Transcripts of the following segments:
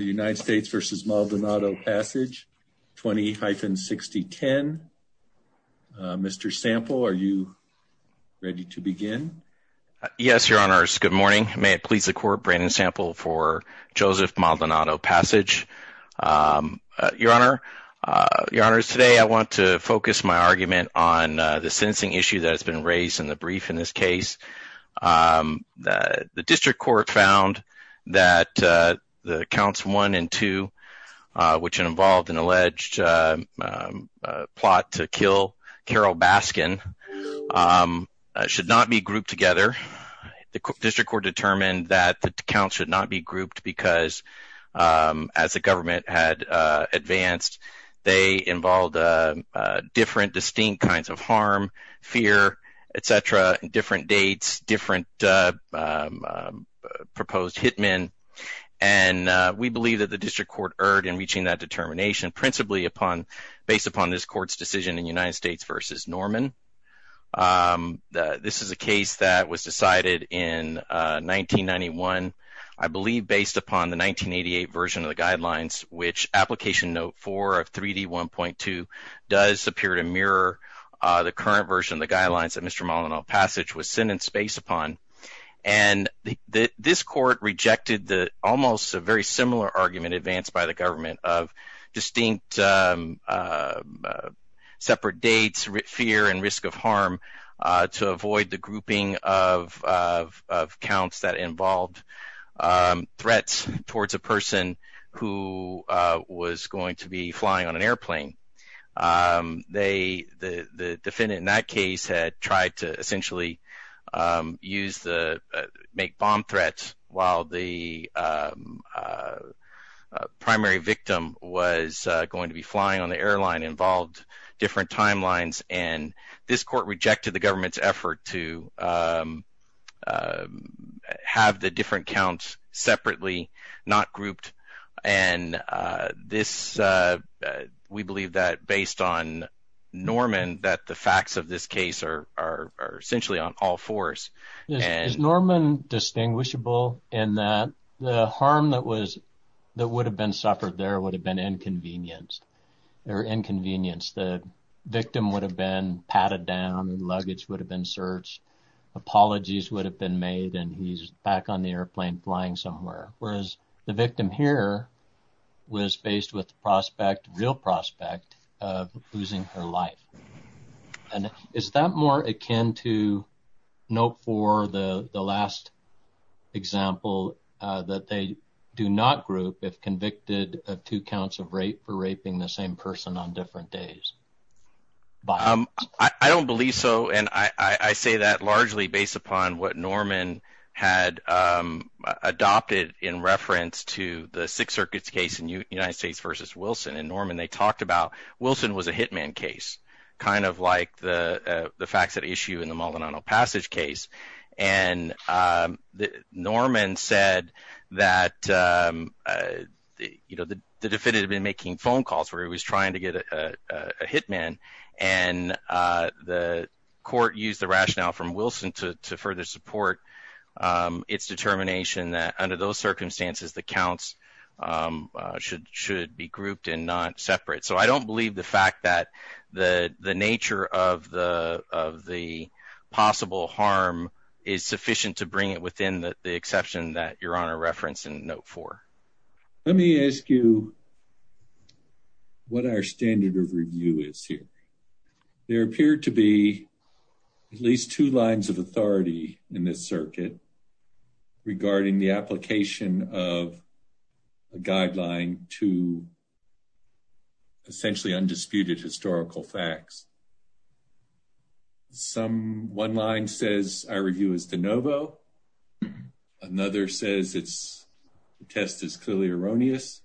United States v. Maldonado-Passage 20-6010. Mr. Sample, are you ready to begin? Yes, your honors. Good morning. May it please the court, Brandon Sample for Joseph Maldonado-Passage. Your honor, your honors, today I want to focus my argument on the sentencing issue that has been raised in the brief in this case. The district court found that the counts 1 and 2, which involved an alleged plot to kill Carol Baskin, should not be grouped together. The district court determined that the counts should not be grouped because, as the government had advanced, they involved different distinct kinds of harm, fear, etc., different dates, different proposed hitmen, and we believe that the district court erred in reaching that determination principally based upon this court's decision in United States v. Norman. This is a case that was decided in 1991, I believe based upon the 1988 version of the guidelines, which application note 4 of 3D1.2 does appear to mirror the current version of the guidelines that Mr. Maldonado-Passage was sentenced based upon, and this court rejected almost a very similar argument advanced by the government of distinct separate dates, fear, and risk of harm to avoid the grouping of counts that the defendant in that case had tried to essentially make bomb threats while the primary victim was going to be flying on the airline involved different timelines, and this court rejected the government's effort to have the different counts separately, not grouped, and we believe that based on Norman that the facts of this case are essentially on all fours. Is Norman distinguishable in that the harm that would have been suffered there would have been inconvenienced? The victim would have been patted down, the luggage would have been searched, apologies would have been made, and he's back on the airplane flying somewhere, whereas the victim here was faced with the prospect, real prospect, of losing her life, and is that more akin to note 4, the last example, that they do not group if convicted of two counts of rape for raping the same person on different days? I don't believe so, and I say that largely based upon what Norman had adopted in reference to the Sixth Circuit's case in United States versus Wilson, and Norman, they talked about Wilson was a hitman case, kind of like the facts at issue in the Molinano Passage case, and Norman said that, you know, the defendant had been making phone calls where he was trying to its determination that under those circumstances the counts should be grouped and not separate, so I don't believe the fact that the nature of the possible harm is sufficient to bring it within the exception that your honor referenced in note 4. Let me ask you what our standard of review is here. There appear to be at least two lines of authority in this circuit regarding the application of a guideline to essentially undisputed historical facts. Some one line says our review is de novo, another says it's the test is clearly erroneous,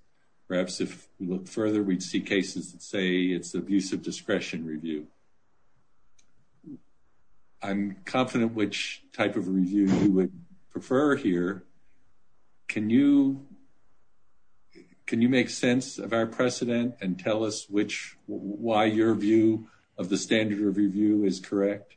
perhaps if we look further we'd see cases that say it's the abuse of discretion review. So I'm confident which type of review you would prefer here. Can you make sense of our precedent and tell us why your view of the standard of review is correct?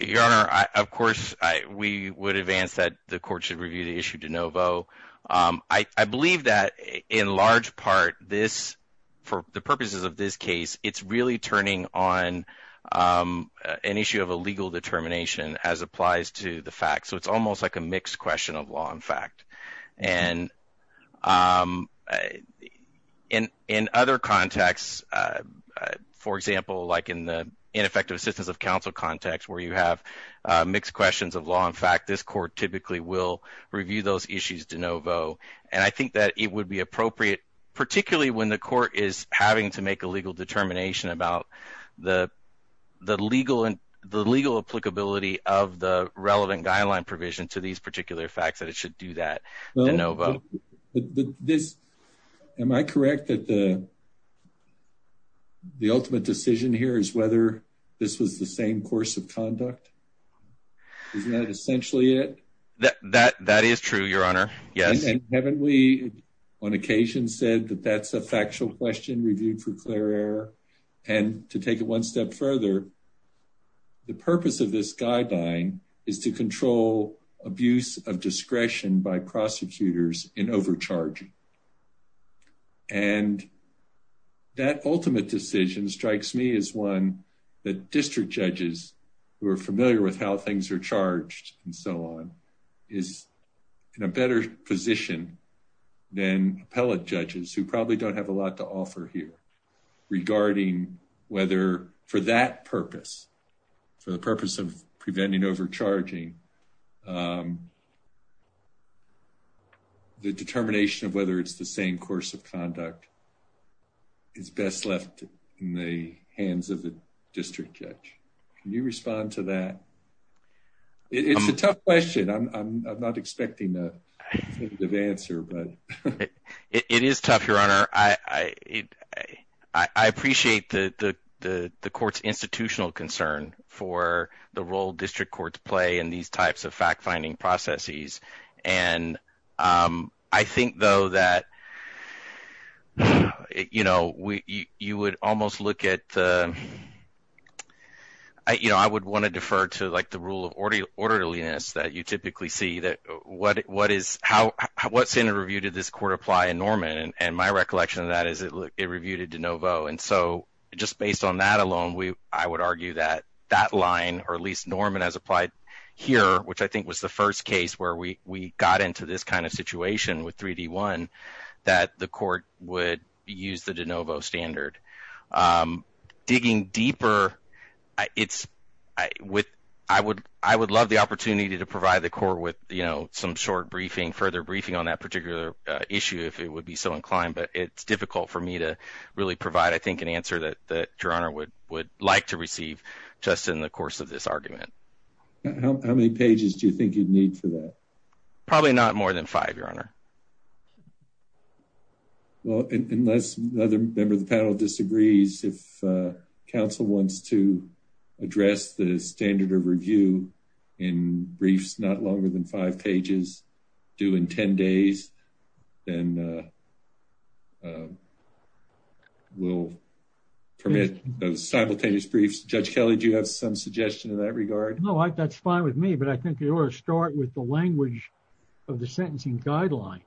Your honor, of course we would advance that the court should review the issue de novo. I believe that in large part this, for the purposes of this case, it's really turning on an issue of a legal determination as applies to the fact, so it's almost like a mixed question of law and fact. And in other contexts, for example, like in the ineffective assistance of counsel context where you have mixed questions of law and fact, this court typically will review those issues de novo and I think that it would be appropriate, particularly when the court is having to make a legal determination about the the legal and the legal applicability of the relevant guideline provision to these particular facts that it should do that. Am I correct that the the ultimate decision here is whether this was the same course of conduct? Isn't that essentially it? That is true, your honor. Yes. And haven't we on occasion said that that's a factual question reviewed for clear error? And to take it one step further, the purpose of this guideline is to control abuse of discretion by prosecutors in overcharging. And that ultimate decision strikes me as one that district judges who are familiar with how things are charged and so on is in a better position than appellate judges who probably don't have a lot to offer here regarding whether for that purpose, for the purpose of preventing overcharging the determination of whether it's the same course of conduct is best left in the hands of the district judge. Can you respond to that? It's a tough question. I'm not expecting the answer, but it is tough, your honor. I appreciate the court's institutional concern for the role district courts play in these types of fact-finding processes. And I think, though, that you know, you would almost look at, you know, I would want to defer to like the rule of orderliness that you typically see that what what is how what's in a review? Did this court apply in Norman? And my recollection of that is it reviewed it de novo. And so just based on that alone, I would argue that that line, or at least Norman has applied here, which I think was the first case where we got into this kind of situation with 3D1, that the court would use the de novo standard. Digging deeper, I would love the opportunity to provide the court with, you know, some short briefing, further briefing on that particular issue, if it would be so inclined. But it's like to receive just in the course of this argument. How many pages do you think you'd need for that? Probably not more than five, your honor. Well, unless another member of the panel disagrees, if council wants to address the standard of review in briefs not longer than five pages due in 10 days, then we'll permit those simultaneous briefs. Judge Kelly, do you have some suggestion in that regard? No, that's fine with me. But I think you ought to start with the language of the sentencing guideline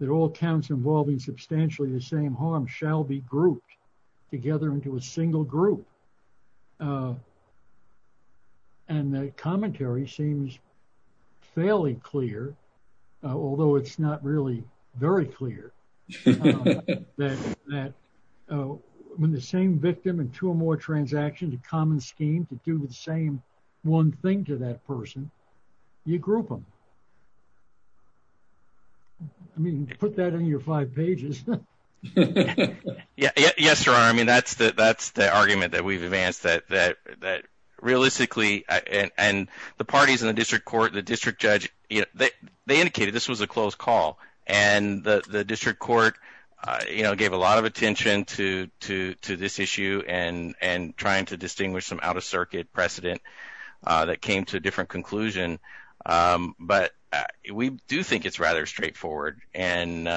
that all counts involving substantially the same harm shall be grouped together into a single group. And the commentary seems fairly clear, although it's not really very clear, that when the same victim and two or more transactions, a common scheme to do the same one thing to that person, you group them. I mean, put that in your five pages. Yeah, yes, your honor. I mean, that's the argument that we've advanced that realistically, and the parties in the district court, the district judge, they indicated this was a closed call. And the district court gave a lot of attention to this issue and trying to distinguish some out of circuit precedent that came to a different conclusion. But we do think it's rather straightforward. And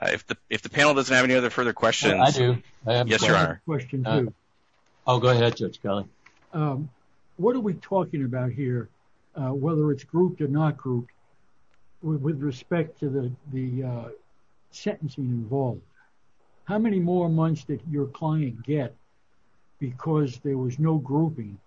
if the panel doesn't have any other further questions. I do. Yes, your honor. I'll go ahead, Judge Kelly. What are we talking about here, whether it's grouped or not grouped with respect to the sentencing involved? How many more months did your client get? Because there was no grouping,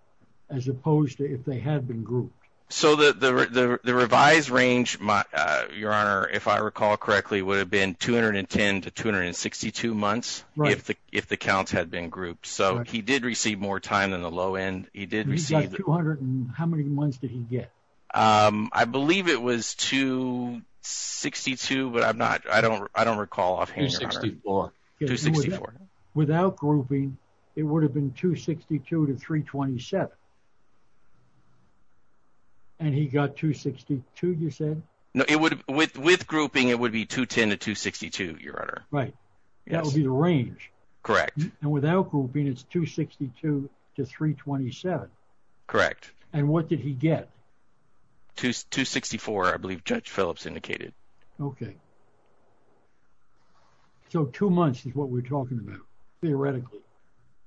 as opposed to if they had been grouped? So the revised range, your honor, if I recall correctly, would have been 210 to 262 months. Right. If the counts had been grouped. So he did receive more time than the low end. He did receive 200. And how many months did he get? I believe it was 262, but I'm not, I don't recall offhand. 264. Without grouping, it would have been 262 to 327. And he got 262, you said? With grouping, it would be 210 to 262, your honor. Right. That would be the range. Correct. And without grouping, it's 262 to 327. Correct. And what did he get? 264, I believe Judge Phillips indicated. Okay. So two months is what we're talking about, theoretically.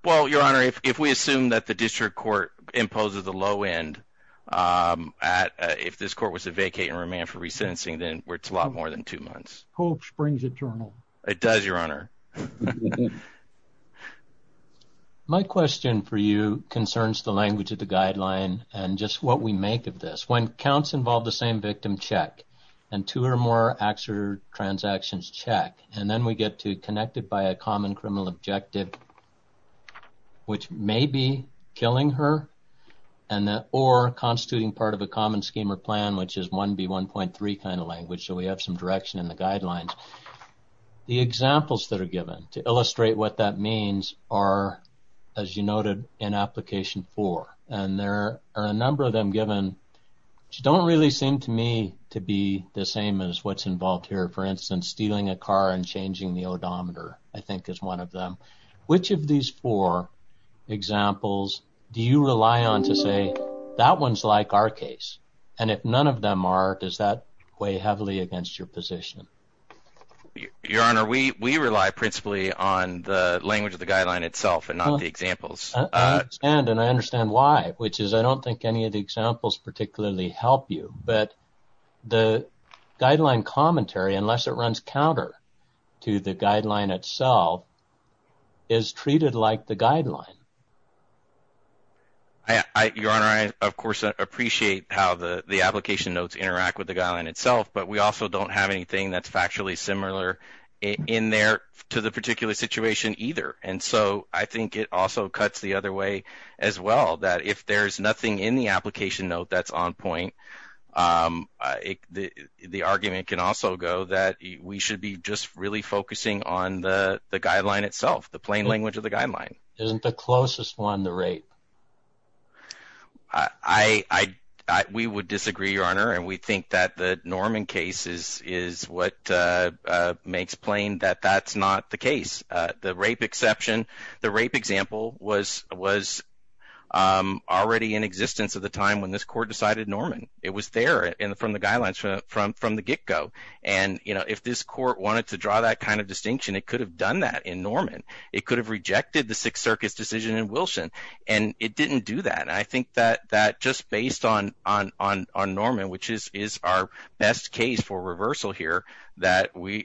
Well, your honor, if we assume that the district court imposes the low end, if this court was to vacate and remand for re-sentencing, then it's a lot more than two months. Hope springs eternal. It does, your honor. My question for you concerns the language of the guideline and just what we make of this. When counts involve the same victim, check. And two or more actor transactions, check. And then we get to connected by a common criminal objective, which may be killing her or constituting part of a common scheme or plan, which is 1B1.3 kind of language. So we have some direction in the guidelines. The examples that are given to illustrate what that means are, as you noted, in application four. And there are a number of them given, which don't really seem to me to be the same as what's involved here. For instance, stealing a car and changing the odometer, I think is one of them. Which of these four examples do you rely on to say that one's like our case? And if none of them are, does that weigh heavily against your position? Your honor, we rely principally on the language of the guideline itself and not the examples. And I understand why, which is I don't think any of the examples particularly help you. But the guideline commentary, unless it runs counter to the guideline itself, is treated like the guideline. Your honor, I of course appreciate how the application notes interact with the guideline itself. But we also don't have anything that's factually similar in there to the particular situation either. And so I think it also cuts the other way as well, that if there's nothing in the application note that's on point, the argument can also go that we should be just really focusing on the guideline itself, the plain language of the guideline. Isn't the closest one the rape? We would disagree, your honor. And we think that the Norman case is what makes plain that that's not the case. The rape example was already in existence at the time when this court decided Norman. It was there from the guidelines from the get-go. And if this court wanted to draw that kind of distinction, it could have done that in Norman. It could have rejected the Sixth Circuit's decision in Wilson. And it didn't do that. And I think that just based on Norman, which is our best case for reversal here, that the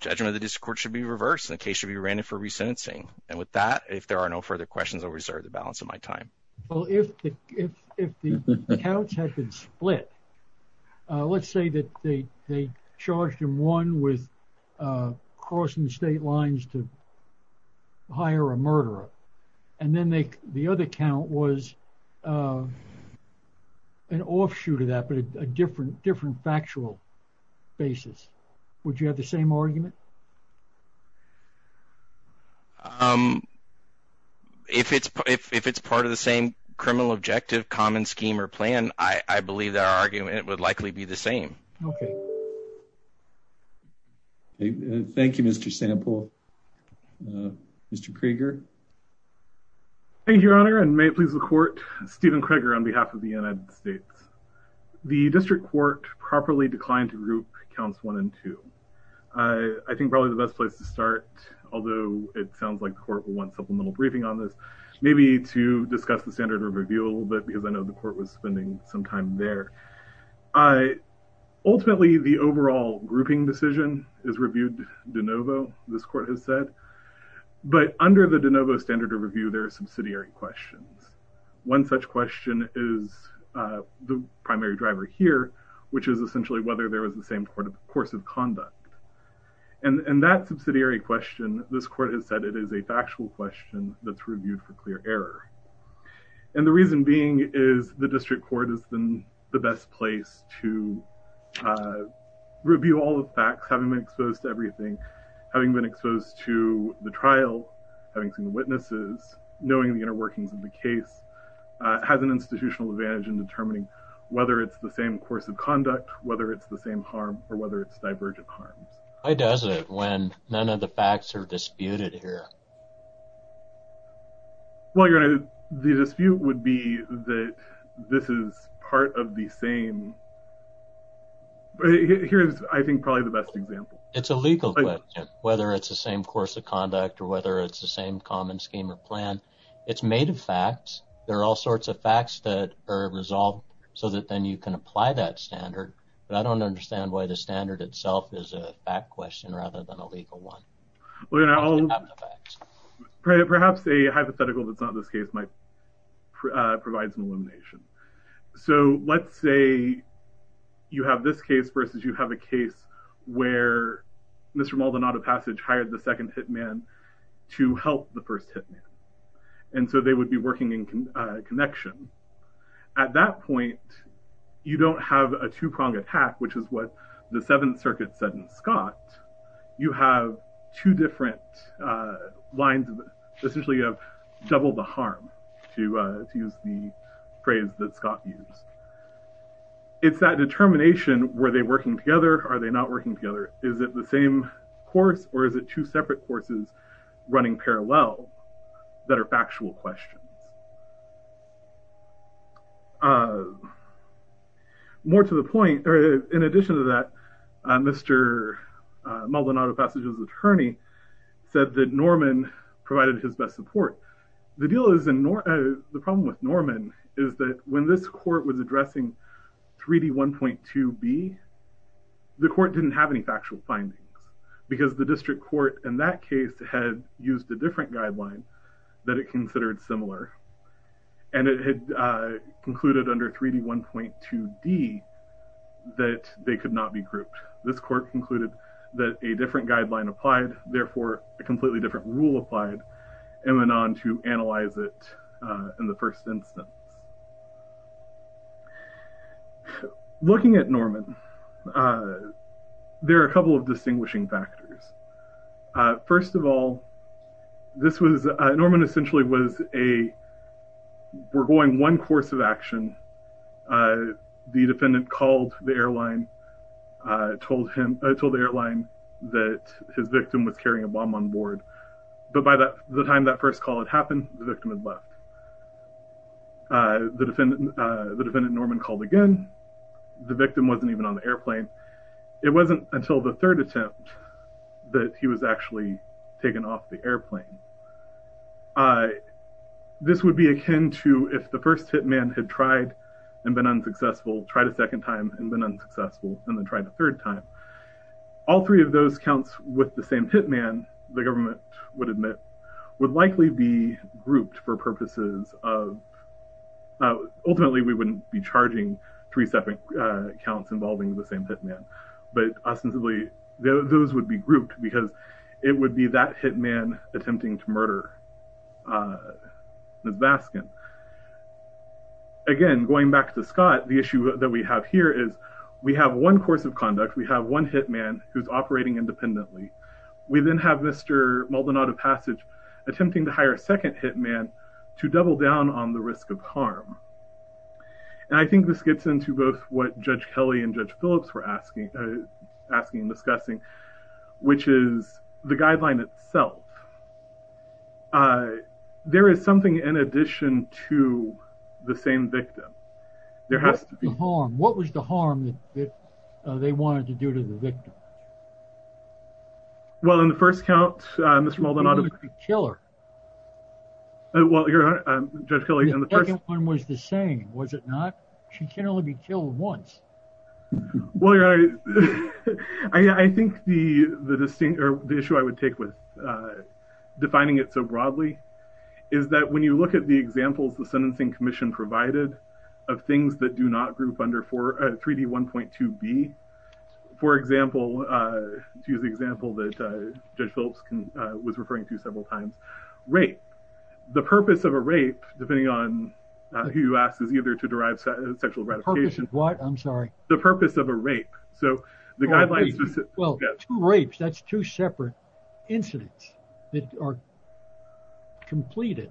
judgment of the district court should be reversed. The case should be ranted for resentencing. And with that, if there are no further questions, I'll reserve the balance of my time. Well, if the counts had been split, let's say that they charged him one with crossing state lines to hire a murderer. And then the other count was an offshoot of that, but a different factual basis. Would you have the same argument? If it's part of the same criminal objective, common scheme or plan, I believe that argument would likely be the same. Thank you, Mr. Sample. Mr. Krieger. Thank you, Your Honor. And may it please the court, Stephen Krieger on behalf of the United States. The district court properly declined to group counts one and two. I think probably the best place to start, although it sounds like the court will want supplemental briefing on this, maybe to discuss the standard of review a little bit because I know the court was spending some time there. Ultimately, the overall grouping decision is reviewed de novo, this court has said. But under the de novo standard of review, there are subsidiary questions. One such question is the primary driver here, which is essentially whether there was the same course of conduct. And that subsidiary question, this court has said it is a factual question that's reviewed for clear error. And the reason being is the district court has been the best place to review all the facts, having been exposed to everything, having been exposed to the trial, having seen the witnesses, knowing the inner workings of the case, has an institutional advantage in determining whether it's the same course of conduct, whether it's the same harm, or whether it's divergent harms. Why does it when none of the facts are disputed here? Well, your honor, the dispute would be that this is part of the same. Here's, I think, probably the best example. It's a legal question, whether it's the same course of conduct, or whether it's the same common scheme or plan. It's made of facts, there are all sorts of facts that are resolved, so that then you can apply that standard. But I don't understand why the standard itself is a fact question rather than a legal one. Your honor, perhaps a hypothetical that's not this case might provide some illumination. So let's say you have this case versus you have a case where Mr. Maldonado Passage hired the second hitman to help the first hitman. And so they would be working in connection. At that point, you don't have a two-pronged attack, which is what the Seventh Circuit said in Scott. You have two different lines, essentially, of double the harm, to use the phrase that Scott used. It's that determination, were they working together? Are they not working together? Is it the same course? Or is it two separate courses running parallel that are factual questions? More to the point, or in addition to that, Mr. Maldonado Passage's attorney said that Norman provided his best support. The problem with Norman is that when this court was addressing 3D1.2B, the court didn't have any factual findings, because the district court in that case had used a different guideline that it considered similar. And so the court didn't have any factual and it had concluded under 3D1.2D that they could not be grouped. This court concluded that a different guideline applied, therefore, a completely different rule applied, and went on to analyze it in the first instance. Looking at Norman, there are a couple of distinguishing factors. First of all, this was, Norman essentially was a, were going one course of action. The defendant called the airline, told him, told the airline that his victim was carrying a bomb on board. But by the time that first call had happened, the victim had left. The defendant, the defendant Norman called again. The victim wasn't even on the airplane. It wasn't until the third attempt that he was actually taken off the airplane. This would be akin to if the first hitman had tried and been unsuccessful, tried a second time and been unsuccessful, and then tried a third time. All three of those counts with the same hitman, the government would admit, would likely be grouped for purposes of, ultimately, we wouldn't be charging three separate counts involving the same hitman. But ostensibly, those would be grouped because it would be that hitman attempting to murder Ms. Baskin. Again, going back to Scott, the issue that we have here is we have one course of conduct. We have one hitman who's operating independently. We then have Mr. Maldonado Passage attempting to hire a second hitman to double down on the risk of harm. I think this gets into both what Judge Kelly and Judge Phillips were asking and discussing, which is the guideline itself. There is something in addition to the same victim. There has to be harm. What was the harm that they wanted to do to the victim? Well, in the first count, Mr. Maldonado- He didn't kill her. Well, Judge Kelly, in the first- The second one was the same, was it not? She can only be killed once. Well, Your Honor, I think the issue I would take with defining it so broadly is that when you look at the examples the Sentencing Commission provided of things that do not group under 3D1.2b, for example, to use the example that Judge Phillips was referring to several times, rape. The purpose of a rape, depending on who you ask, is either to derive sexual gratification- The purpose of what? I'm sorry. The purpose of a rape. So the guidelines- Well, two rapes, that's two separate incidents that are completed.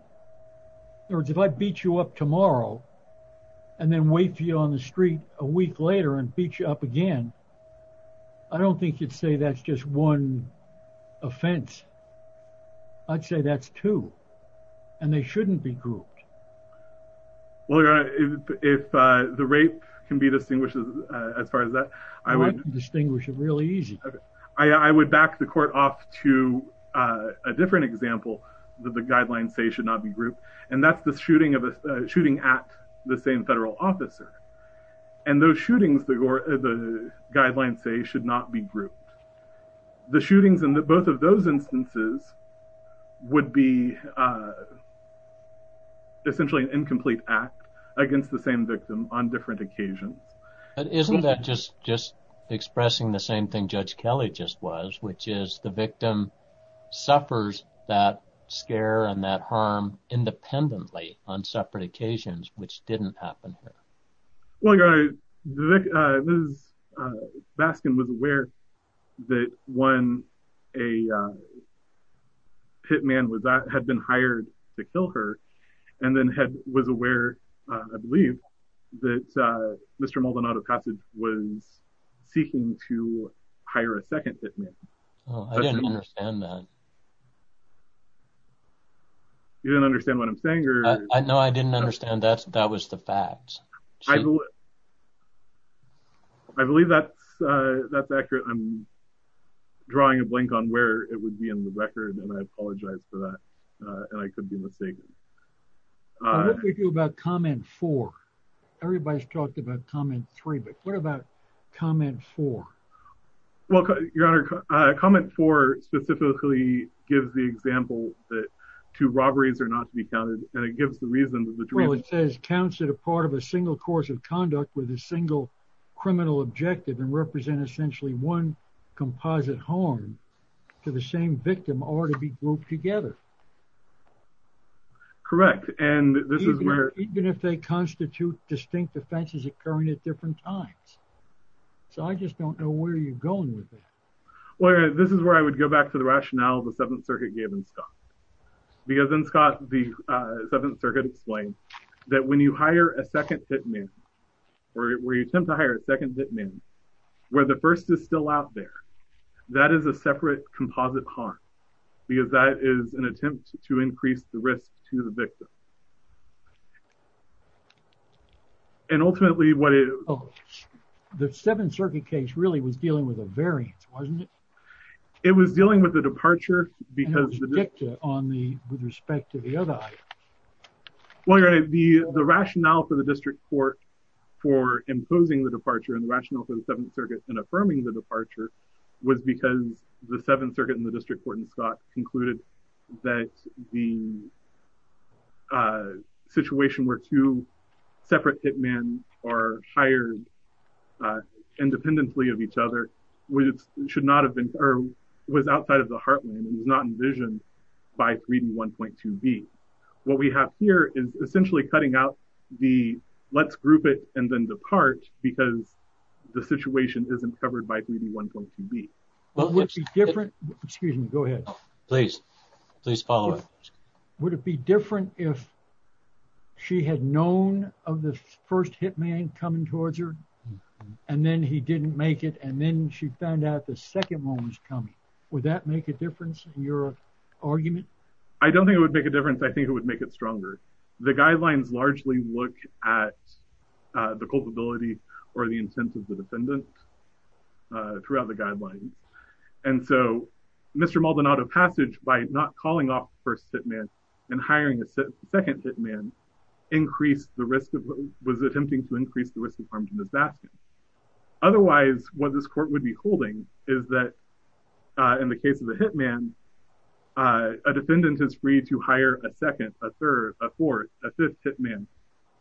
In other words, if I beat you up tomorrow and then wait for you on the street a week later and beat you up again, I don't think you'd say that's just one offense. I'd say that's two, and they shouldn't be grouped. Well, Your Honor, if the rape can be distinguished as far as that, I would- I can distinguish it really easy. Okay. I would back the court off to a different example that the guidelines say should not be shooting at the same federal officer. Those shootings, the guidelines say, should not be grouped. The shootings in both of those instances would be essentially an incomplete act against the same victim on different occasions. Isn't that just expressing the same thing Judge Kelly just was, which is the victim suffers that scare and that harm independently on separate occasions, which didn't happen here. Well, Your Honor, Ms. Baskin was aware that when a pit man had been hired to kill her, and then was aware, I believe, that Mr. Maldonado-Cossage was seeking to hire a second pit man. Oh, I didn't understand that. You didn't understand what I'm saying, or- No, I didn't understand that. That was the fact. I believe that's accurate. I'm drawing a blink on where it would be in the record, and I apologize for that, and I could be mistaken. What do we do about comment four? Everybody's talked about comment three, but what about comment four? Well, Your Honor, comment four specifically gives the example that two robberies are not to be counted, and it gives the reason that the- Well, it says counts that a part of a single course of conduct with a single criminal objective and represent essentially one composite harm to the same victim are to be grouped together. Correct, and this is where- Even if they constitute distinct offenses occurring at different times. So, I just don't know where you're going with that. Well, Your Honor, this is where I would go back to the rationale the Seventh Circuit gave in Scott, because in Scott, the Seventh Circuit explained that when you hire a second pit man, or where you attempt to hire a second pit man, where the first is still out there, that is a separate composite harm, because that is an attempt to increase the risk to the victim, and ultimately what it- The Seventh Circuit case really was dealing with a variance, wasn't it? It was dealing with the departure because- And it was dicta with respect to the other items. Well, Your Honor, the rationale for the district court for imposing the departure and the rationale for the Seventh Circuit in affirming the departure was because the Seventh Circuit and the district court in Scott concluded that the situation where two separate pit men are hired independently of each other was outside of the heartland and was not envisioned by 3D1.2b. What we have here is essentially cutting out the let's group it and then depart because the situation isn't covered by 3D1.2b. Would it be different- Excuse me, go ahead. Please, please follow up. Would it be different if she had known of the first hit man coming towards her and then he didn't make it and then she found out the second one was coming? Would that make a difference in your argument? I don't think it would make a difference. I think it would make it stronger. The guidelines largely look at the culpability or the intent of the defendant throughout the guidelines and so Mr. Maldonado passage by not calling off the first hit man and hiring a second hit man was attempting to increase the risk of harm to Miss Baskin. Otherwise, what this court would be holding is that in the case of the hit man, a defendant is free to hire a second, a third, a fourth, a fifth hit man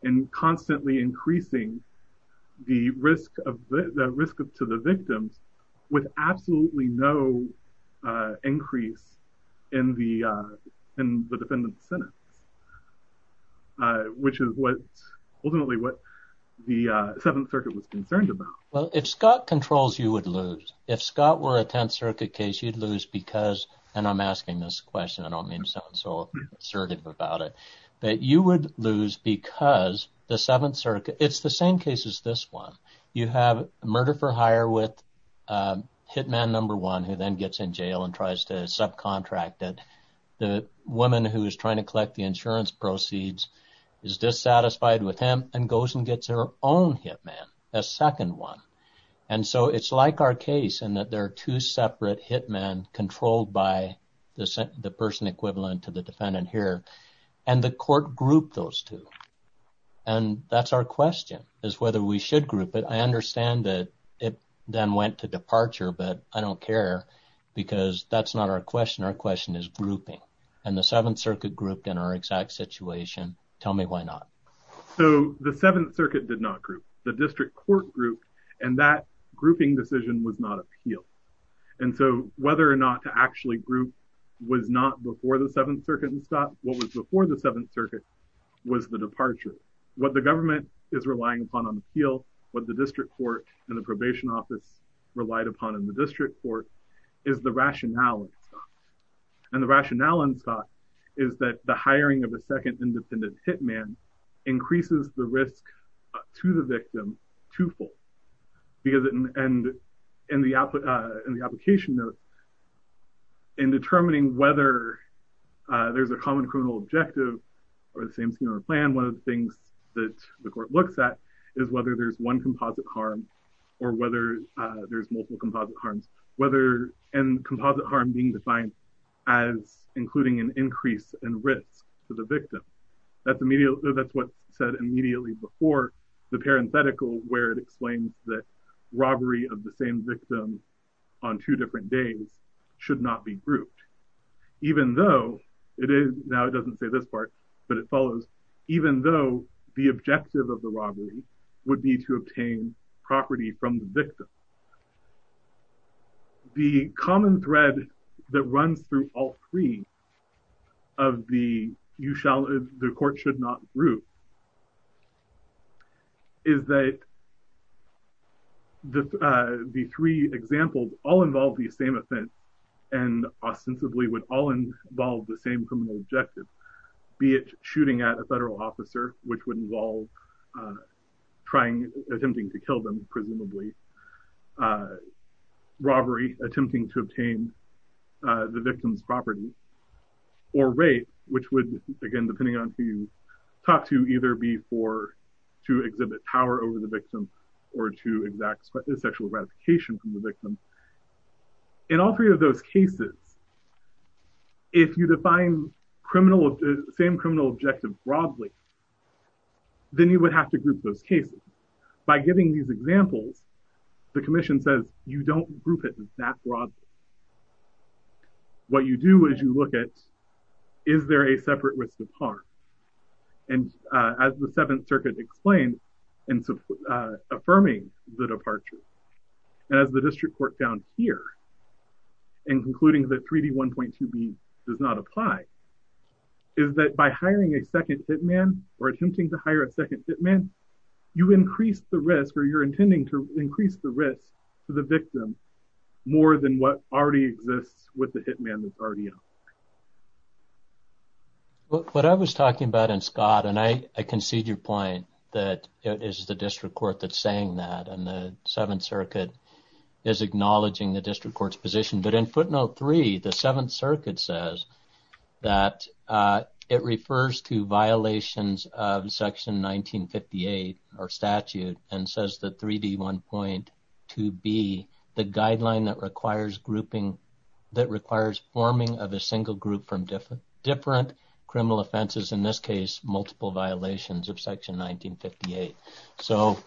and constantly increasing the risk to the victims with absolutely no increase in the defendant's sentence, which is ultimately what the Seventh Circuit was concerned about. Well, if Scott controls, you would lose. If Scott were a Tenth Circuit case, you'd lose because, and I'm asking this question, I don't mean to sound so assertive about it, but you would lose because the Seventh Circuit, it's the same case as this one. You have murder for hire with hit man number one who then gets in jail and tries to subcontract it. The woman who is trying to collect the insurance proceeds is dissatisfied with him and goes and gets her own hit man, a second one. And so it's like our case in that there are two separate hit men controlled by the person equivalent to the defendant here and the court grouped those two. And that's our question, is whether we should group it. I understand that it then went to departure, but I don't care because that's not our question. Our question is grouping. And the Seventh Circuit grouped in our exact situation. Tell me why not. So the Seventh Circuit did not group. The district court grouped and that grouping decision was not appealed. And so whether or not to actually group was not before the Seventh Circuit and Scott. What was before the Seventh Circuit was the departure. What the government is relying upon on appeal, what the district court and the probation office relied upon in the district court is the rationale. And the rationale on Scott is that the hiring of a second independent hit man increases the risk to the victim twofold. Because in the application, in determining whether there's a common criminal objective or the same scheme or plan, one of the things that the court looks at is whether there's one composite harm or whether there's multiple composite harms, whether and composite harm being defined as including an increase in risk to the victim. That's what's said immediately before the parenthetical where it explains that robbery of the same victim on two different days should not be grouped, even though it is now it doesn't say this part, but it follows, even though the objective of the robbery would be to obtain property from the victim. The common thread that runs through all three of the you shall, the court should not group is that the three examples all involve the same offense and ostensibly would all involve the same criminal objective, be it shooting at a federal officer, which would involve trying, attempting to kill them, presumably, robbery, attempting to obtain the victim's property, or rape, which would, again, depending on who you talk to, either be for to exhibit power over the victim or to exact sexual gratification from the victim. In all three of those cases, if you define criminal, same criminal objective broadly, then you would have to group those cases. By giving these examples, the commission says you don't group it that broadly. What you do is you look at, is there a separate risk of harm? And as the Seventh Circuit explained, and affirming the departure, as the district court found here, and concluding that 3D1.2B does not apply, is that by hiring a second hit man or attempting to hire a second hit man, you increase the risk or you're intending to increase the risk to the victim more than what already exists with the hit man that's already out. What I was talking about, and Scott, and I concede your point that it is the district court that's saying that, and the Seventh Circuit is acknowledging the district court's position, but in footnote three, the Seventh Circuit says that it refers to violations of section 1958, or statute, and says that 3D1.2B, the guideline that requires grouping, that requires forming of a single group from different criminal offenses, in this case, multiple violations of section 1958. So,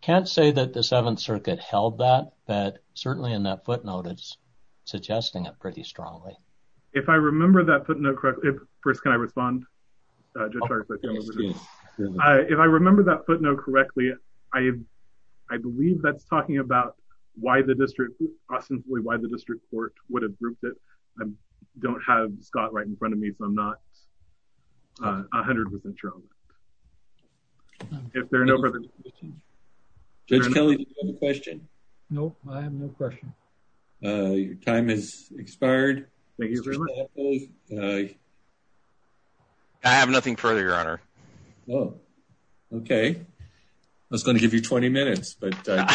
can't say that the Seventh Circuit held that, but certainly in that footnote, it's suggesting it pretty strongly. If I remember that footnote correctly, first, can I respond? If I remember that footnote correctly, I believe that's talking about why the district court would have grouped it. I don't have Scott right in front of me, so I'm not 100% sure. If there are no further questions. Judge Kelly, do you have a question? No, I have no question. Your time has expired. I have nothing further, Your Honor. Oh, okay. I was going to give you 20 minutes, but that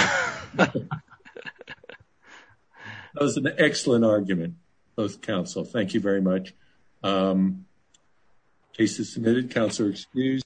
was an excellent argument, both counsel. Thank you very much. The case is submitted. Counsel are excused.